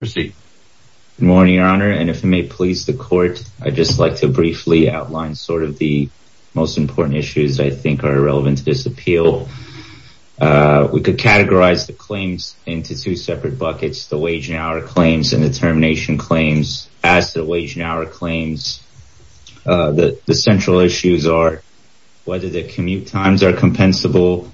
Good morning, Your Honor, and if it may please the Court, I'd just like to briefly outline sort of the most important issues that I think are relevant to this appeal. We could categorize the claims into two separate buckets, the wage and hour claims and the termination claims. As to the wage and hour claims, the central issues are whether the commute times are compensable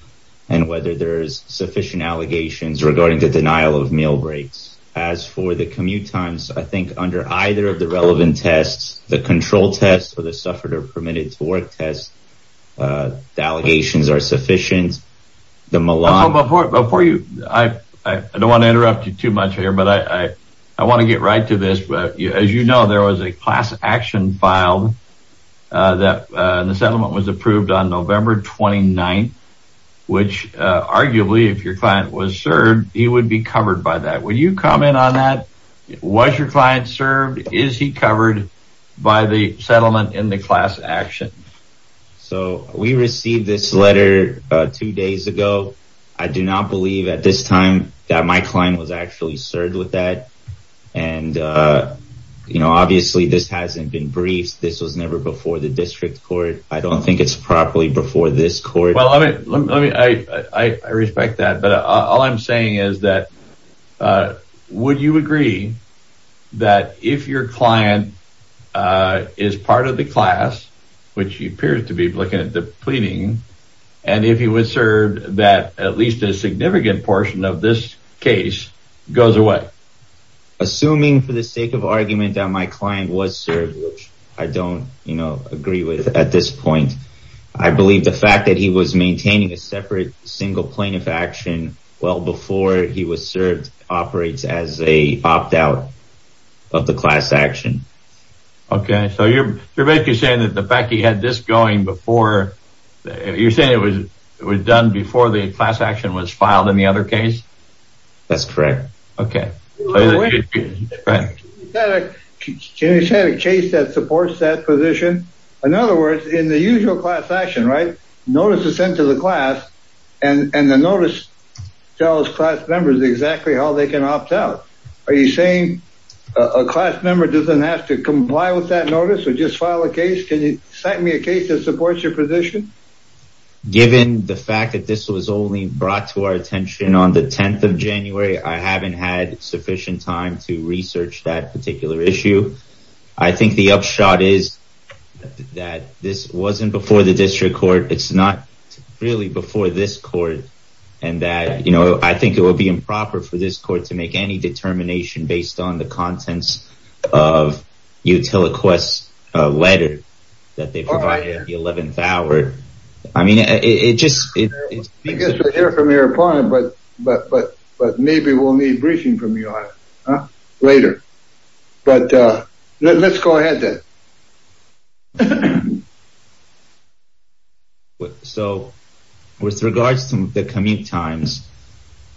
and whether there's sufficient allegations regarding the denial of meal breaks. As for the commute times, I think under either of the relevant tests, the control test or the suffered or permitted to work test, the allegations are sufficient. The malign... Before you, I don't want to interrupt you too much here, but I want to get right to this. As you know, there was a class action filed that the settlement was approved on November 29th which arguably, if your client was served, he would be covered by that. Would you comment on that? Was your client served? Is he covered by the settlement in the class action? So, we received this letter two days ago. I do not believe at this time that my client was actually served with that and, you know, obviously this hasn't been briefed. This was never before the I respect that, but all I'm saying is that would you agree that if your client is part of the class, which he appears to be looking at the pleading, and if he was served, that at least a significant portion of this case goes away? Assuming for the sake of argument that my client was served, which I don't, you know, agree with at this point. I believe the fact that he was maintaining a separate single plaintiff action well before he was served operates as a opt-out of the class action. Okay, so you're basically saying that the fact he had this going before... You're saying it was it was done before the class action was filed in the other case? That's correct. Okay. You said a case that supports that position. In other words, in the usual class action, right, notice is sent to the class and the notice tells class members exactly how they can opt out. Are you saying a class member doesn't have to comply with that notice or just file a case? Can you cite me a case that supports your position? Given the fact that this was only to our attention on the 10th of January, I haven't had sufficient time to research that particular issue. I think the upshot is that this wasn't before the district court. It's not really before this court and that, you know, I think it would be improper for this court to make any determination based on the contents of Utila Quest's letter that they provided at the time. But maybe we'll need briefing from you on it later. But let's go ahead then. So with regards to the commute times,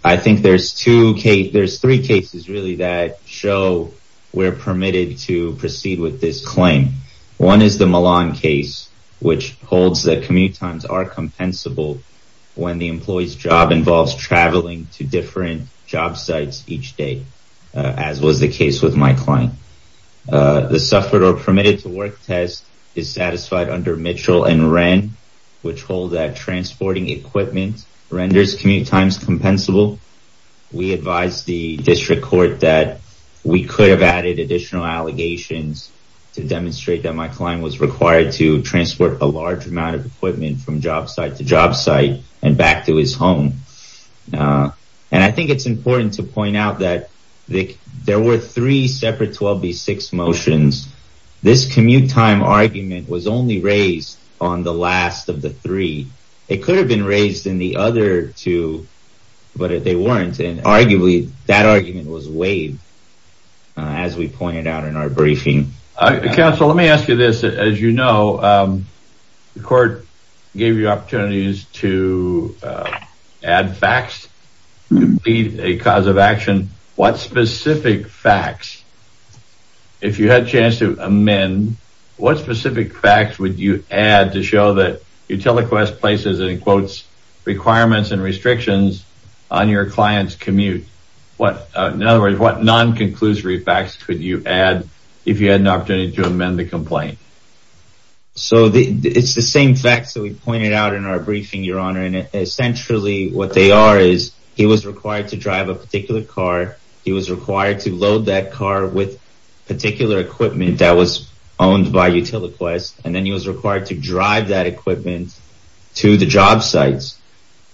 I think there's three cases really that show we're permitted to proceed with this claim. One is the Milan case, which holds that commute times are traveling to different job sites each day, as was the case with my client. The suffered or permitted to work test is satisfied under Mitchell and Wren, which holds that transporting equipment renders commute times compensable. We advised the district court that we could have added additional allegations to demonstrate that my client was required to transport a large amount from job site to job site and back to his home. And I think it's important to point out that there were three separate 12B6 motions. This commute time argument was only raised on the last of the three. It could have been raised in the other two, but they weren't. And arguably, that argument was waived, as we pointed out in our briefing. Counsel, let me ask you this. As you know, the court gave you opportunities to add facts to be a cause of action. What specific facts, if you had a chance to amend, what specific facts would you add to show that Utiliquest places, in quotes, requirements and restrictions on your client's commute? In other words, what non-conclusory facts could you add if you had an opportunity to amend the complaint? So it's the same facts that we pointed out in our briefing, Your Honor. And essentially, what they are is he was required to drive a particular car. He was required to load that car with particular equipment that was owned by Utiliquest. And then he was required to drive that equipment to the job sites.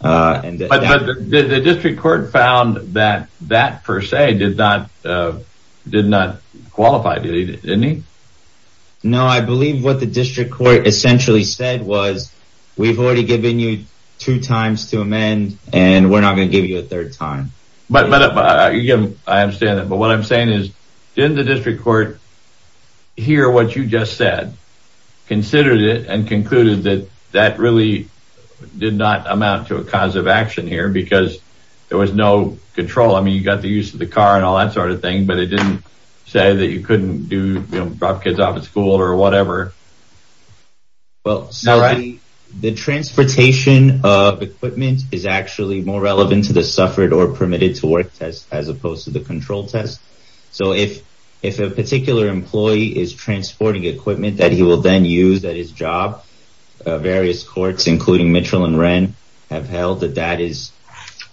But the district court found that that, per se, did not qualify, didn't it? No, I believe what the district court essentially said was, we've already given you two times to amend, and we're not going to give you a third time. I understand that. But what I'm saying is, didn't the district court hear what you just said, considered it, and concluded that that really did not amount to a cause of action here because there was no control? I mean, you got the use of the car and all that sort of thing, but it didn't say that you couldn't drop kids off at school or whatever. Well, the transportation of equipment is actually more relevant to the suffered or permitted to work test as opposed to the control test. So if a particular employee is transporting equipment that he will then use at his job, various courts, including Mitchell and Wren, have held that that is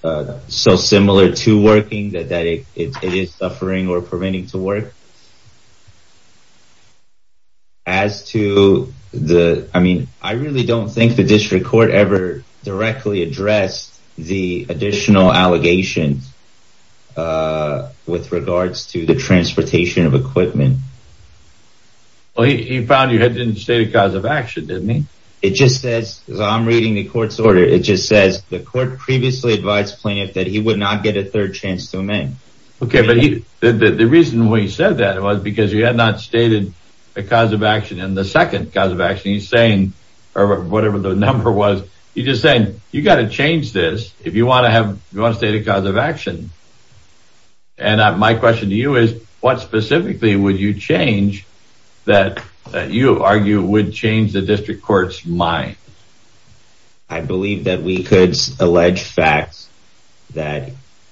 so similar to working that it is suffering or permitting to work. As to the, I mean, I really don't think the district court ever directly addressed the additional allegations with regards to the transportation of equipment. Well, he found you had to state a cause of action, didn't he? It just says, I'm reading the court's order. It just says the court previously advised plaintiff that he would not get a third chance to amend. Okay. But the reason we said that it was because you had not stated a cause of action in the second cause of action he's saying, or whatever the number was, you just saying you got to change this if you want to have, you want to state a cause of action. And my question to you is what specifically would you change that you argue would change the district court's mind? I believe that we could allege facts that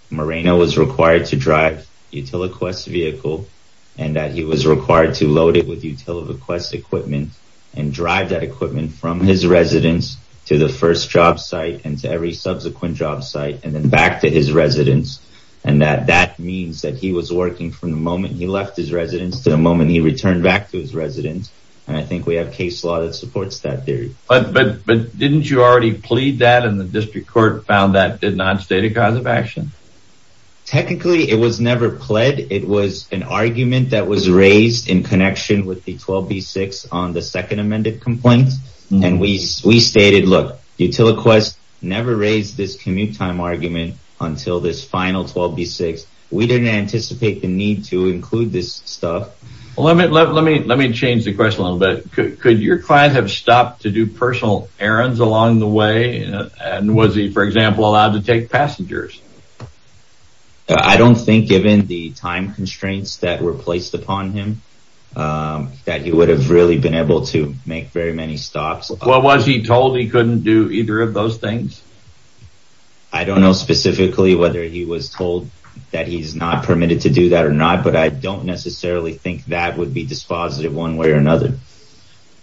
Moreno was required to drive Utila Quest vehicle and that he was required to load it with Utila Quest equipment and drive that equipment from his residence to the first job site and to every subsequent job site and then back to his residence. And that that means that he was working from the moment he left his residence to the moment he returned back to his residence. And I think we have case law that supports that theory. But didn't you already plead that and the district court found that did not state a cause of action? Technically it was never pled. It was an argument that was raised in connection with the 12B6 on the second amended complaint. And we stated, look, Utila Quest never raised this commute time argument until this final 12B6. We didn't anticipate the to include this stuff. Let me change the question a little bit. Could your client have stopped to do personal errands along the way? And was he, for example, allowed to take passengers? I don't think given the time constraints that were placed upon him, that he would have really been able to make very many stops. Well, was he told he couldn't do either of those things? I don't know specifically whether he was told that he's not permitted to do that or not, but I don't necessarily think that would be dispositive one way or another.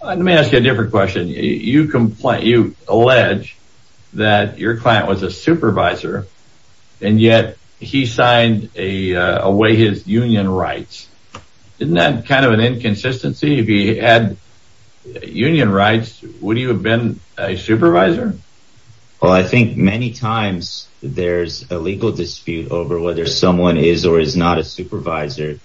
Let me ask you a different question. You allege that your client was a supervisor, and yet he signed away his union rights. Isn't that kind of an inconsistency? If he had I think many times there's a legal dispute over whether someone is or is not a supervisor.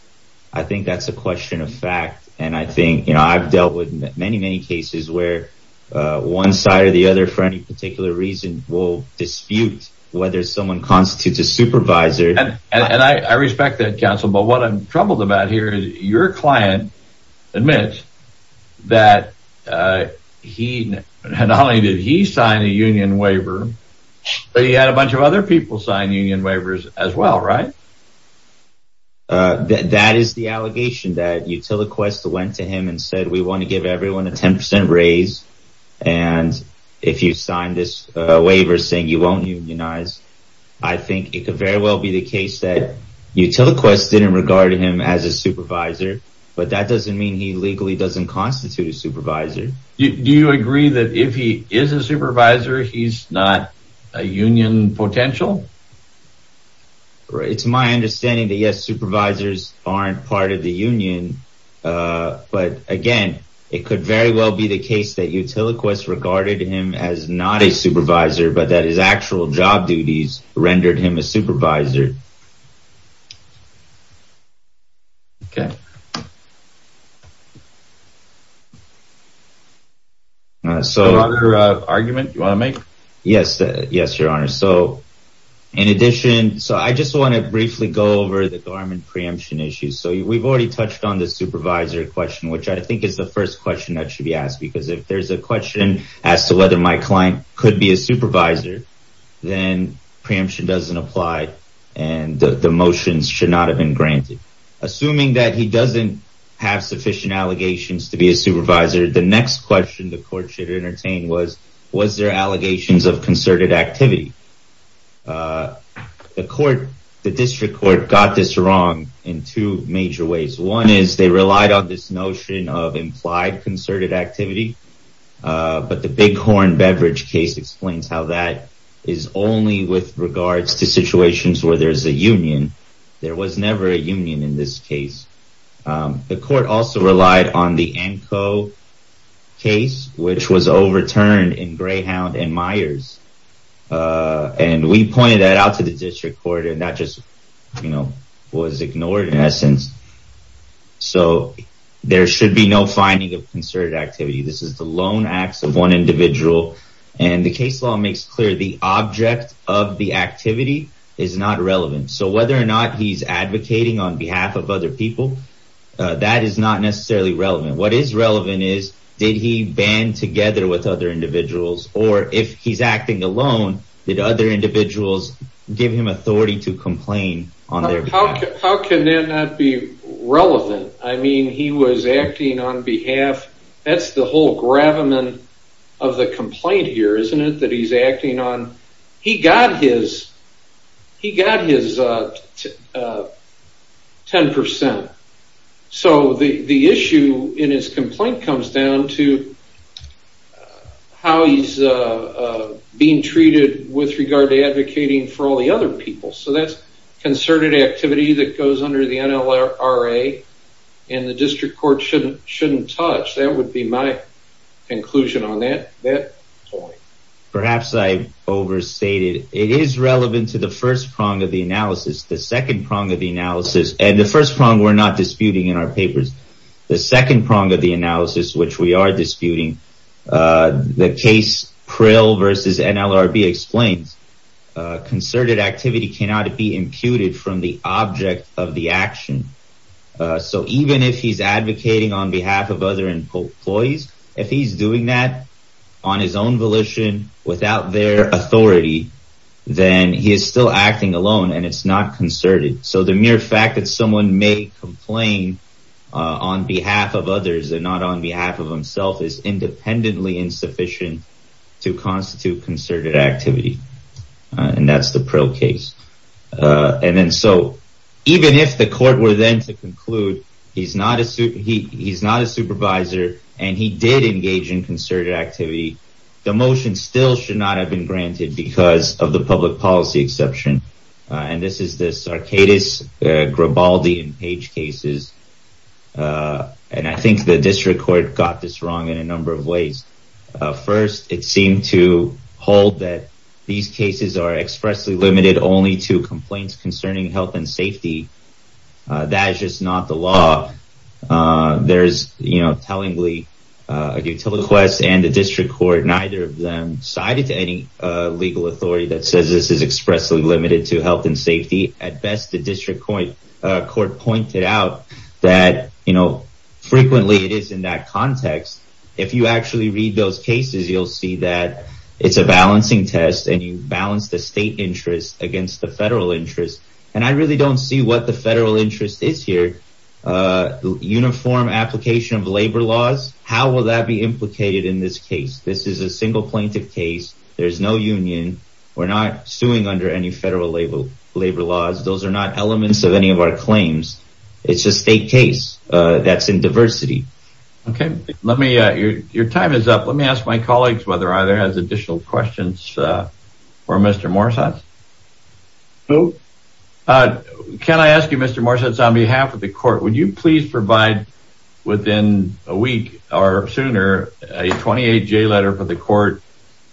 I think that's a question of fact. And I think I've dealt with many, many cases where one side or the other for any particular reason will dispute whether someone constitutes a supervisor. And I respect that counsel. But what I'm troubled about here is your client admits that he not only did he sign a union waiver, but he had a bunch of other people sign union waivers as well, right? That is the allegation that Utiliquest went to him and said, we want to give everyone a 10% raise. And if you sign this waiver saying you won't unionize, I think it could very well be the case Utiliquest didn't regard him as a supervisor, but that doesn't mean he legally doesn't constitute a supervisor. Do you agree that if he is a supervisor, he's not a union potential? It's my understanding that yes, supervisors aren't part of the union. But again, it could very well be the case that Utiliquest regarded him as not a supervisor, but that his actual job duties rendered him a supervisor. Okay. So argument you want to make? Yes. Yes, Your Honor. So in addition, so I just want to briefly go over the garment preemption issues. So we've already touched on the supervisor question, which I think is the first question that should be asked. Because if there's a question as to whether my client could be a supervisor, then preemption doesn't apply and the motions should not have been granted. Assuming that he doesn't have sufficient allegations to be a supervisor. The next question the court should entertain was, was there allegations of concerted activity? The court, the district court got this wrong in two major ways. One is they relied on this notion of implied concerted activity. But the Bighorn Beverage case explains how that is only with regards to situations where there's a union. There was never a union in this case. The court also relied on the ANCO case, which was overturned in Greyhound and Myers. And we pointed that out to the district court and that you know, was ignored in essence. So there should be no finding of concerted activity. This is the lone acts of one individual. And the case law makes clear the object of the activity is not relevant. So whether or not he's advocating on behalf of other people, that is not necessarily relevant. What is relevant is, did he band together with other individuals? Or if he's acting alone, did other individuals give him authority to complain? How can that not be relevant? I mean, he was acting on behalf, that's the whole gravamen of the complaint here, isn't it? That he's acting on, he got his, he got his 10%. So the issue in his complaint comes down to how he's being treated with regard to advocating for all the other people. So that's concerted activity that goes under the NLRA and the district court shouldn't touch. That would be my conclusion on that point. Perhaps I overstated. It is relevant to the first prong of the analysis. The second prong of the analysis and the first prong we're not disputing in our papers. The second prong of the analysis, which we are disputing, the case Prill versus NLRB explains concerted activity cannot be imputed from the object of the action. So even if he's advocating on behalf of other employees, if he's doing that on his own volition, without their authority, then he is still acting alone and it's not concerted. So the mere fact that someone may complain on behalf of others and not on behalf of himself is independently insufficient to constitute concerted activity. And that's the Prill case. And then so even if the court were then to conclude, he's not a supervisor and he did engage in concerted activity, the motion still should not have been granted because of the public policy exception. And this is this Arcatis, Gribaldi and Page cases. And I think the district court got this wrong in a number of ways. First, it seemed to hold that these cases are expressly limited only to complaints concerning health and safety. That is just not the law. There's, you know, tellingly a request and the district court, neither of them cited to any legal authority that says this is expressly limited to health and safety. At best, the district court pointed out that, you know, frequently it is in that context. If you actually read those cases, you'll see that it's a balancing test and you balance the state interest against the federal interest. And I really don't see what the federal interest is here. Uniform application of labor laws. How will that be implicated in this case? This is a single plaintiff case. There's no union. We're not suing under any federal labor laws. Those are not elements of any of our claims. It's a state case that's in diversity. OK, let me your time is up. Let me ask my colleagues whether or not there are additional questions for Mr. Morsatz. Can I ask you, Mr. Morsatz, on behalf of the court, would you please provide within a week or sooner a 28-J letter for the court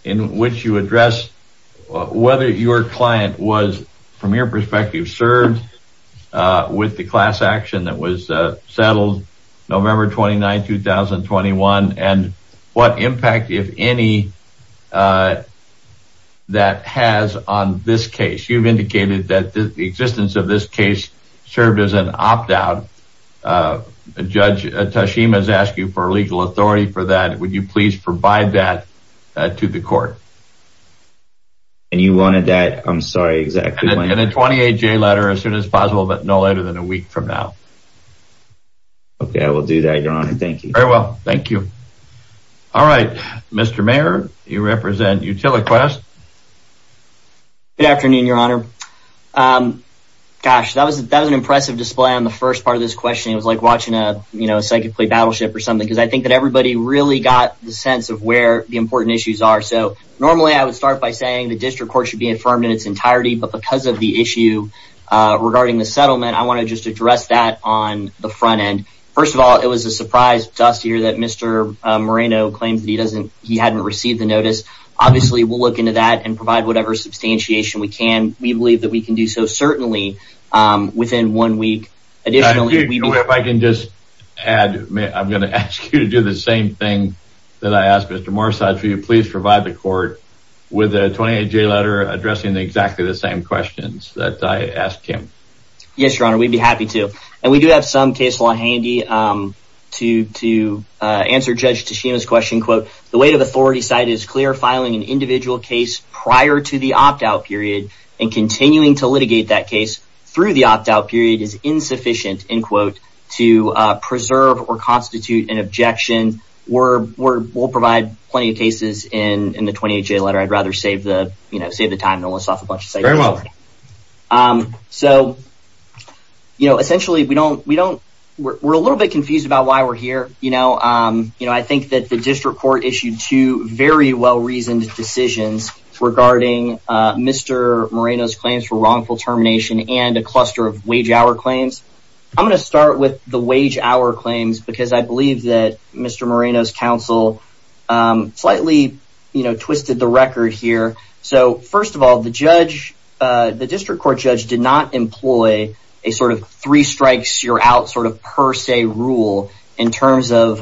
in which you address whether your client was, from your perspective, served with the class action that was settled November 29, 2021, and what impact, if any, that has on this case? You've indicated that the existence of this case served as an opt-out. Judge Tashima has asked you for legal authority for that. Would you please provide that to the court? And you wanted that? I'm sorry, exactly. And a 28-J letter as soon as possible, but no later than a week from now. OK, I will do that, Your Honor. Thank you. Very well, thank you. All right, Mr. Mayer, you represent Utiliquest. Good afternoon, Your Honor. Gosh, that was an impressive display on the first part of this question. It was like watching a psychic play Battleship or something, because I think that everybody really got the sense of where the important issues are. So normally, I would start by saying the district court should be affirmed in its entirety, but because of the issue regarding the settlement, I want to just address that on the front end. First of all, it was a surprise to us to hear that Mr. Moreno claims that he hadn't received the notice. Obviously, we'll look into that and provide whatever substantiation we can. We believe that we can do so certainly within one week. Additionally, if I can just add, I'm going to ask you to do the same thing that I asked Mr. Morsad for you. Please provide the court with a 28-J letter addressing exactly the same questions that I asked him. Yes, Your Honor, we'd be happy to. We do have some case law handy to answer Judge Tashima's question. The weight of authority side is clear. Filing an individual case prior to the opt-out period and continuing to litigate that case through the opt-out period is insufficient to preserve or constitute an objection. We'll provide plenty of cases in the 28-J letter. I'd rather save the time than list off a bunch of We're a little bit confused about why we're here. I think that the district court issued two very well-reasoned decisions regarding Mr. Moreno's claims for wrongful termination and a cluster of wage-hour claims. I'm going to start with the wage-hour claims because I believe that Mr. Moreno's counsel slightly twisted the record here. First of all, the district court judge did employ a three-strikes-you're-out per se rule in terms of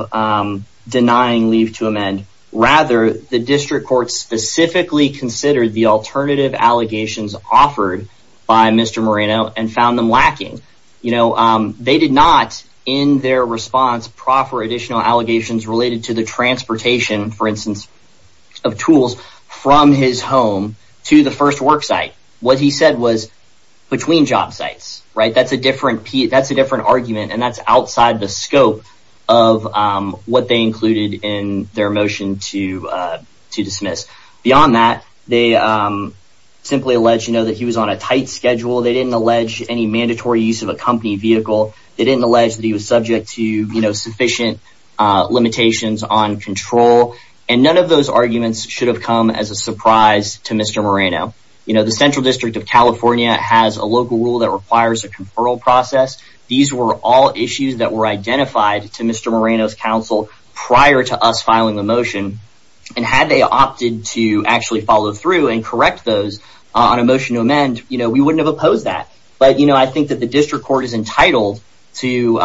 denying leave to amend. Rather, the district court specifically considered the alternative allegations offered by Mr. Moreno and found them lacking. They did not, in their response, proffer additional allegations related to the transportation, for instance, of tools from his home to the first work site. What he said was, between job sites. That's a different argument and that's outside the scope of what they included in their motion to dismiss. Beyond that, they simply alleged that he was on a tight schedule. They didn't allege any mandatory use of a company vehicle. They didn't allege that he was subject to sufficient limitations on control. None of those arguments should have come as a surprise to Mr. Moreno. These were all issues that were identified to Mr. Moreno's counsel prior to us filing the motion. Had they opted to actually follow through and correct those on a motion to amend, we wouldn't have opposed that. I think that the district court is entitled to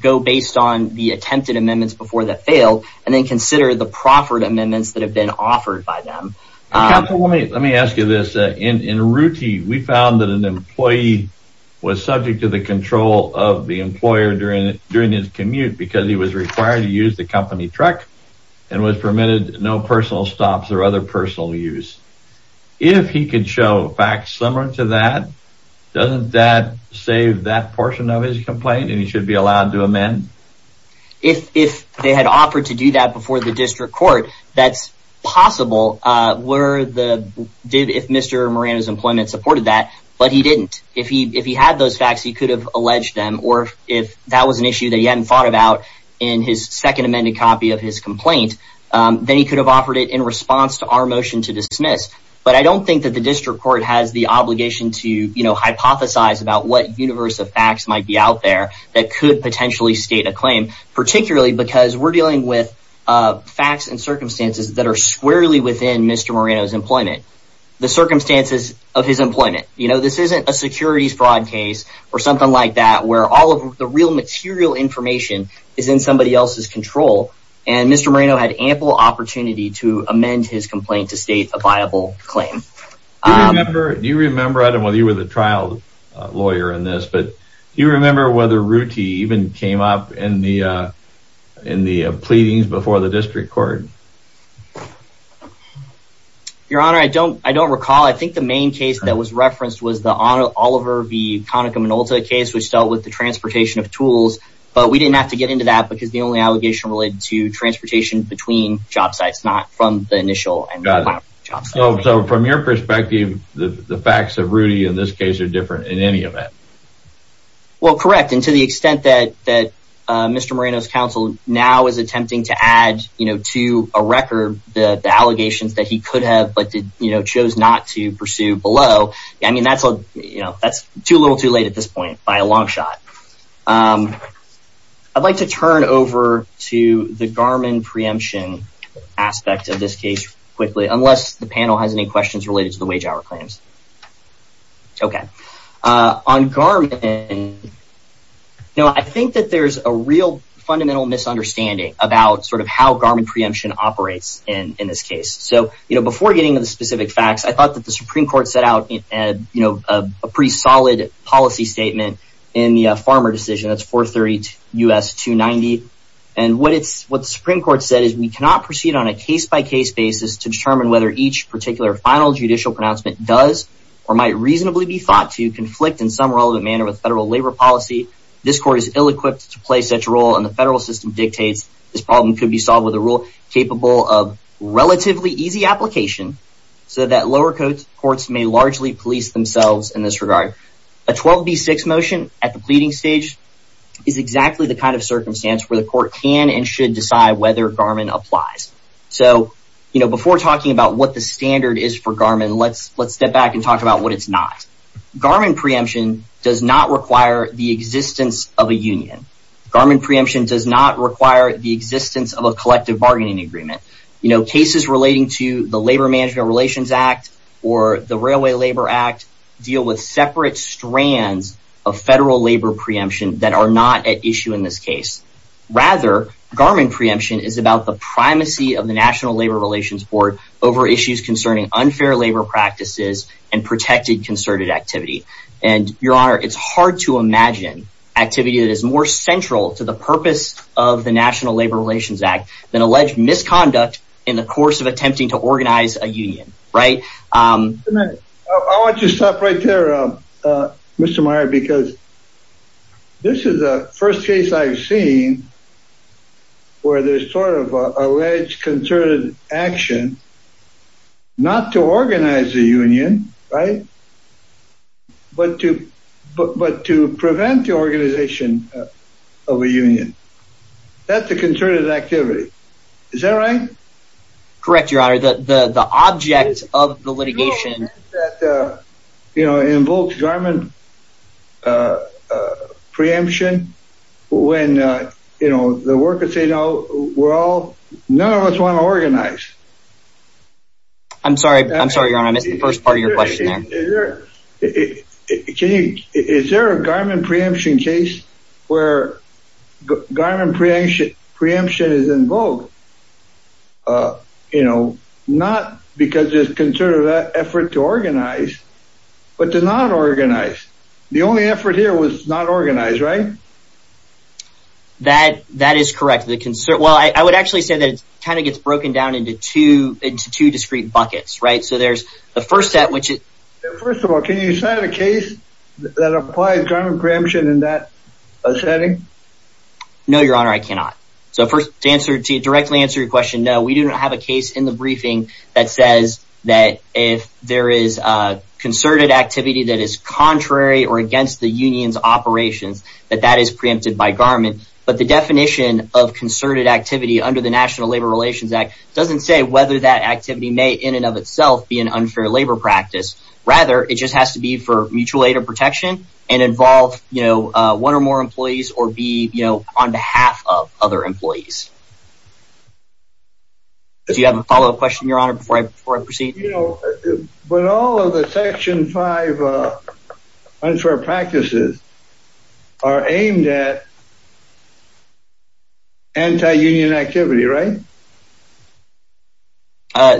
go based on the attempted amendments before they fail and then consider the proffered amendments that have been offered by We found that an employee was subject to the control of the employer during his commute because he was required to use the company truck and was permitted no personal stops or other personal use. If he could show facts similar to that, doesn't that save that portion of his complaint and he should be allowed to amend? If they had offered to do that before the district court, that's possible if Mr. Moreno's employment supported that, but he didn't. If he had those facts, he could have alleged them. Or if that was an issue that he hadn't thought about in his second amended copy of his complaint, then he could have offered it in response to our motion to dismiss. But I don't think that the district court has the obligation to hypothesize about what universe of facts might be out there that could potentially state a claim, particularly because we're dealing with facts and circumstances that are squarely within Mr. Moreno's employment. The circumstances of his employment. This isn't a securities fraud case or something like that where all of the real material information is in somebody else's control and Mr. Moreno had ample opportunity to amend his complaint to state a viable claim. Do you remember, I don't know whether you were the trial lawyer in this, but do you remember whether Rudy even came up in the pleadings before the district court? Your honor, I don't recall. I think the main case that was referenced was the Oliver v. Conaca-Minolta case which dealt with the transportation of tools, but we didn't have to get into that because the only allegation related to transportation between job sites, not from the initial and final job sites. So from your perspective, the facts of Rudy in this case are different in any event. Well correct, and to the extent that Mr. Moreno's counsel now is attempting to add to a record the allegations that he could have but chose not to pursue below, I mean that's a little too late at this point by a long shot. I'd like to turn over to the Garmin preemption aspect of this case quickly, unless the panel has any questions related to the wage claims. Okay, on Garmin, I think that there's a real fundamental misunderstanding about sort of how Garmin preemption operates in this case. So before getting into the specific facts, I thought that the Supreme Court set out a pretty solid policy statement in the farmer decision, that's 430 U.S. 290, and what the Supreme Court said is we cannot proceed on a case-by-case basis to determine whether each particular final judicial pronouncement does or might reasonably be thought to conflict in some relevant manner with federal labor policy. This court is ill-equipped to play such a role and the federal system dictates this problem could be solved with a rule capable of relatively easy application so that lower courts may largely police themselves in this regard. A 12b6 motion at the pleading stage is exactly the kind of circumstance where the talking about what the standard is for Garmin, let's step back and talk about what it's not. Garmin preemption does not require the existence of a union. Garmin preemption does not require the existence of a collective bargaining agreement. You know, cases relating to the Labor Management Relations Act or the Railway Labor Act deal with separate strands of federal labor preemption that are not at issue in this case. Rather, Garmin preemption is about the over issues concerning unfair labor practices and protected concerted activity. And your honor, it's hard to imagine activity that is more central to the purpose of the National Labor Relations Act than alleged misconduct in the course of attempting to organize a union, right? I want you to stop right there, Mr. Meyer, because this is the first case I've seen where there's sort of alleged concerted action not to organize a union, right? But to prevent the organization of a union. That's a concerted activity. Is that right? Correct, your honor, the object of the litigation, you know, invokes Garmin preemption, when, you know, the workers say, no, we're all, none of us want to organize. I'm sorry, I'm sorry, your honor, I missed the first part of your question. Is there a Garmin preemption case where Garmin preemption is invoked? Uh, you know, not because there's concerted effort to organize, but to not organize. The only effort here was not organized, right? That that is correct. The concern, well, I would actually say that it kind of gets broken down into two into two discrete buckets, right? So there's the first step, which is, first of all, can you set a case that applies Garmin preemption in that setting? No, your honor, I cannot. So first answer directly answer your question. No, we do not have a case in the briefing that says that if there is a concerted activity that is contrary or against the union's operations, that that is preempted by Garmin. But the definition of concerted activity under the National Labor Relations Act doesn't say whether that activity may in and of itself be an unfair labor practice. Rather, it just has to be for mutual aid or protection and involve, you know, one or more employees or be, you know, on behalf of other employees. Do you have a follow up question, your honor, before I proceed? You know, but all of the section five unfair practices are aimed at anti-union activity, right?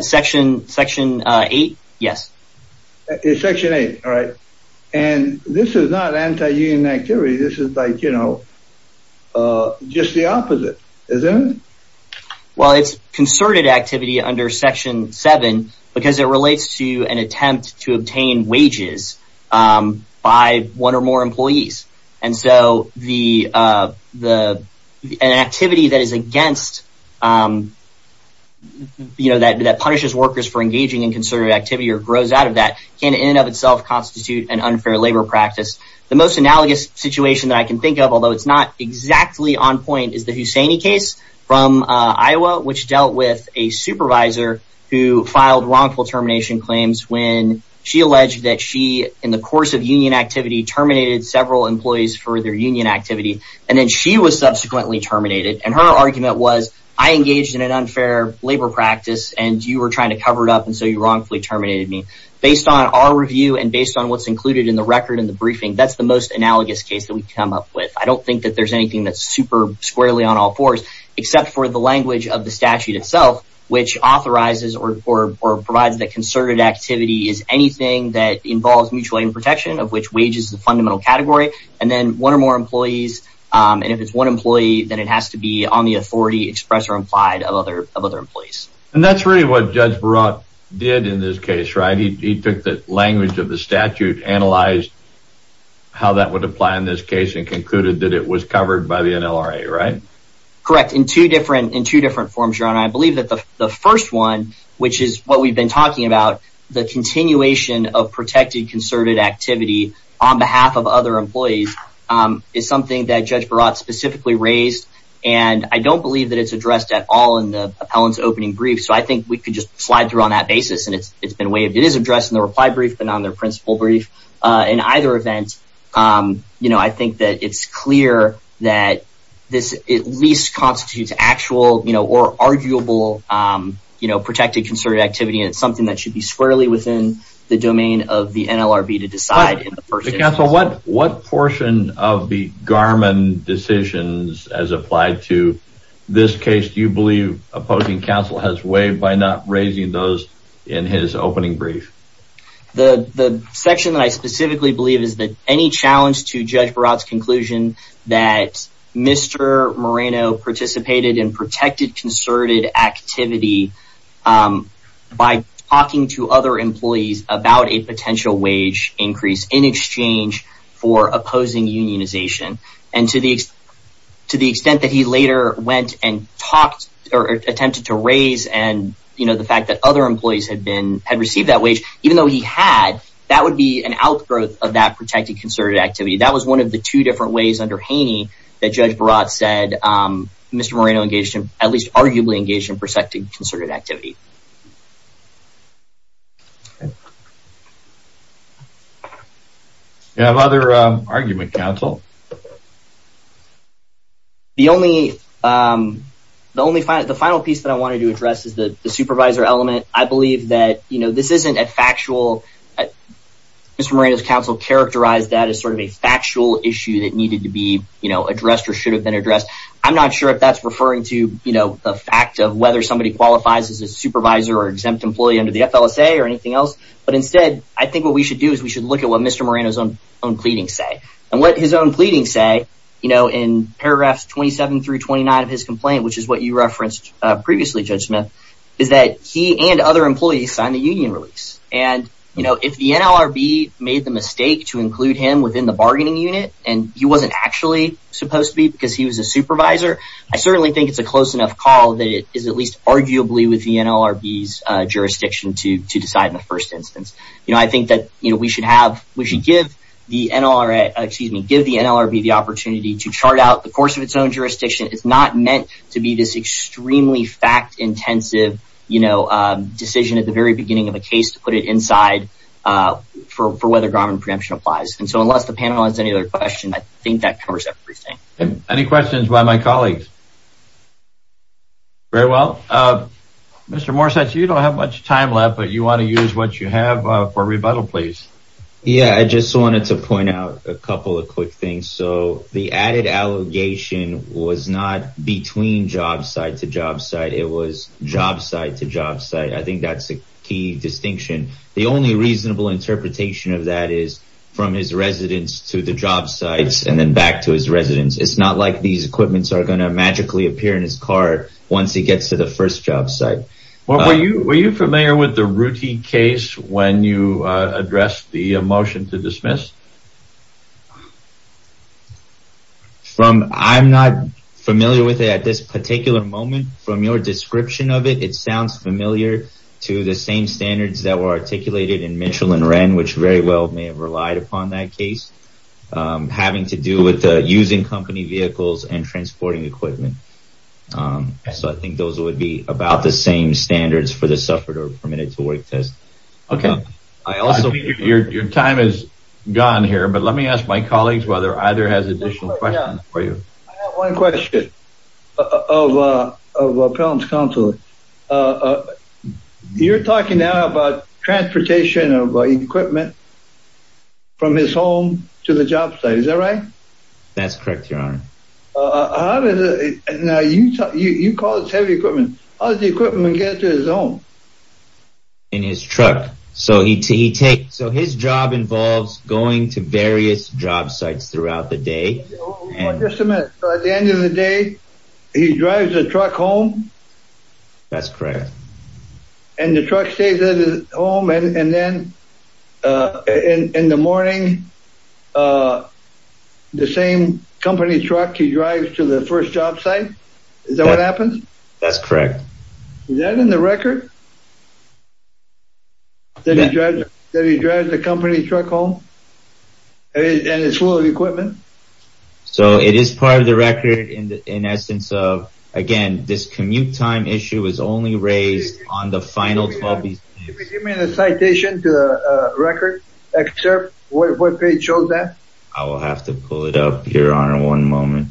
Section, section eight. Yes. It's section eight. All right. And this is not anti-union activity. This is like, you know, just the opposite, isn't it? Well, it's concerted activity under section seven, because it relates to an attempt to obtain wages by one or more employees. And so the, the activity that is against, you know, that that punishes workers for engaging in concerted activity or grows out of that can in and of itself constitute an unfair labor practice. The most analogous situation that I can think of, although it's not exactly on point, is the Husseini case from Iowa, which dealt with a supervisor who filed wrongful termination claims when she alleged that she, in the course of union activity, terminated several employees for their union activity. And then she was subsequently terminated. And her argument was, I engaged in wrongfully terminated me. Based on our review and based on what's included in the record in the briefing, that's the most analogous case that we've come up with. I don't think that there's anything that's super squarely on all fours, except for the language of the statute itself, which authorizes or, or, or provides that concerted activity is anything that involves mutual aid and protection of which wages, the fundamental category, and then one or more employees. And if it's one employee, then it has to be on the authority expressed or implied of other, of other employees. And that's really what Judge Barat did in this case, right? He took the language of the statute, analyzed how that would apply in this case and concluded that it was covered by the NLRA, right? Correct. In two different, in two different forms, your honor. I believe that the first one, which is what we've been talking about, the continuation of protected concerted activity on behalf of other employees is something that Judge Barat specifically raised. And I don't believe that it's addressed at all in the appellant's opening brief. So I think we could just slide through on that basis. And it's, it's been waived. It is addressed in the reply brief and on their principal brief in either event. You know, I think that it's clear that this at least constitutes actual, you know, or arguable, you know, protected concerted activity. And it's something that should be squarely within the domain of the NLRB to decide in the first instance. Counsel, what, what portion of the Garmin decisions as applied to this case do you believe opposing counsel has waived by not raising those in his opening brief? The, the section that I specifically believe is that any challenge to Judge Barat's conclusion that Mr. Moreno participated in protected concerted activity by talking to other employees about a potential wage increase in exchange for opposing unionization. And to the, to the extent that he later went and talked or attempted to raise and, you know, the fact that other employees had been, had received that wage, even though he had, that would be an outgrowth of that protected concerted activity. That was one of the two different ways under Haney that Judge Barat said Mr. Moreno engaged in, at least arguably engaged in, protected concerted activity. Do you have other argument, counsel? The only, the only final, the final piece that I wanted to address is the supervisor element. I believe that, you know, this isn't a factual, Mr. Moreno's counsel characterized that as sort of a factual issue that needed to be, you know, addressed or should have been addressed. I'm not sure if that's referring to, you know, the fact of whether somebody qualifies as a supervisor or exempt employee under the FLSA or anything else. But instead, I think what we should do is we should look at what Mr. Moreno's own, own pleadings say. And what his own pleadings say, you know, in paragraphs 27 through 29 of his complaint, which is what you referenced previously, Judge Smith, is that he and other employees signed the union release. And, you know, if the NLRB made the mistake to include him within the bargaining unit, and he wasn't actually supposed to be because he was a supervisor, I certainly think it's a close enough call that it is at least arguably within the NLRB's jurisdiction to decide in the first instance. You know, I think that, you know, we should have, we should give the NLRB, excuse me, give the NLRB the opportunity to chart out the course of its own jurisdiction. It's not meant to be this extremely fact intensive, you know, decision at the very beginning of a case to put it inside for whether Garmin preemption applies. And so unless the panel has any other questions, I think that covers everything. Any questions by my colleagues? Very well. Mr. Morsatz, you don't have much time left, but you want to use what you have for rebuttal, please. Yeah, I just wanted to point out a couple of quick things. So the added allegation was not between job site to job site, it was job site to job site. I think that's a key distinction. The only reasonable interpretation of that is from his residence to the job sites and then back to his residence. It's not like these equipments are going to magically appear in his car once he gets to the first job site. Were you familiar with the routine case when you addressed the motion to dismiss? I'm not familiar with it at this particular moment. From your description of it, it sounds familiar to the same standards that were articulated in that case, having to do with using company vehicles and transporting equipment. So I think those would be about the same standards for the suffered or permitted to work test. Okay. Your time is gone here, but let me ask my colleagues whether either has additional questions for you. I have one question of appellant's counsel. You're talking now about transportation of equipment from his home to the job site. Is that right? That's correct, your honor. Now you call it heavy equipment. How does the equipment get to his home? In his truck. So his job involves going to various job sites throughout the day. Just a minute. So at the end of the day, he drives a truck home? That's correct. And the truck stays at his home and then in the morning, the same company truck he drives to the first job site? Is that what happens? That's correct. Is that in the record? That he drives the company truck home and it's full of equipment? So it is part of the record in the, in essence of, again, this commute time issue is only raised on the final 12. Can you give me the citation to record, excerpt, what page shows that? I will have to pull it up, your honor, one moment.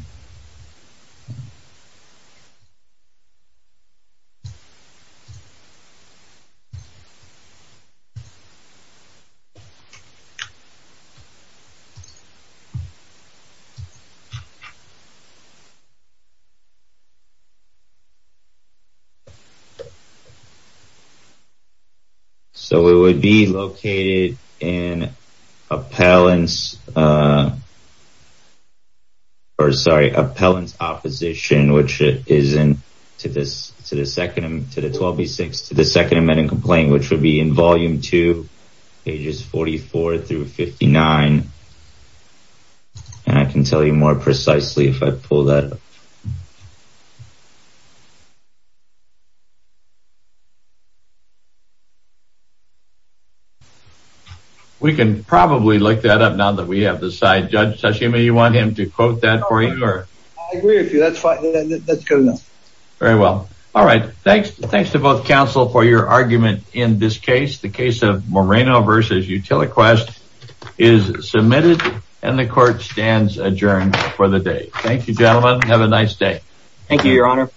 So it would be located in appellant's, or sorry, appellant's opposition, which is to the second, to the 12B6, to the second amending complaint, which would be in volume two, pages 44 through 59. I can tell you more precisely if I pull that up. We can probably look that up now that we have this side. Judge Tashima, you want him to quote that for you? I agree with you. That's fine. Very well. All right. Thanks. Thanks to both counsel for your argument. In this case, the case of Moreno versus Utiliquest is submitted and the court stands adjourned for the day. Thank you, gentlemen. Have a nice day. Thank you, your honor.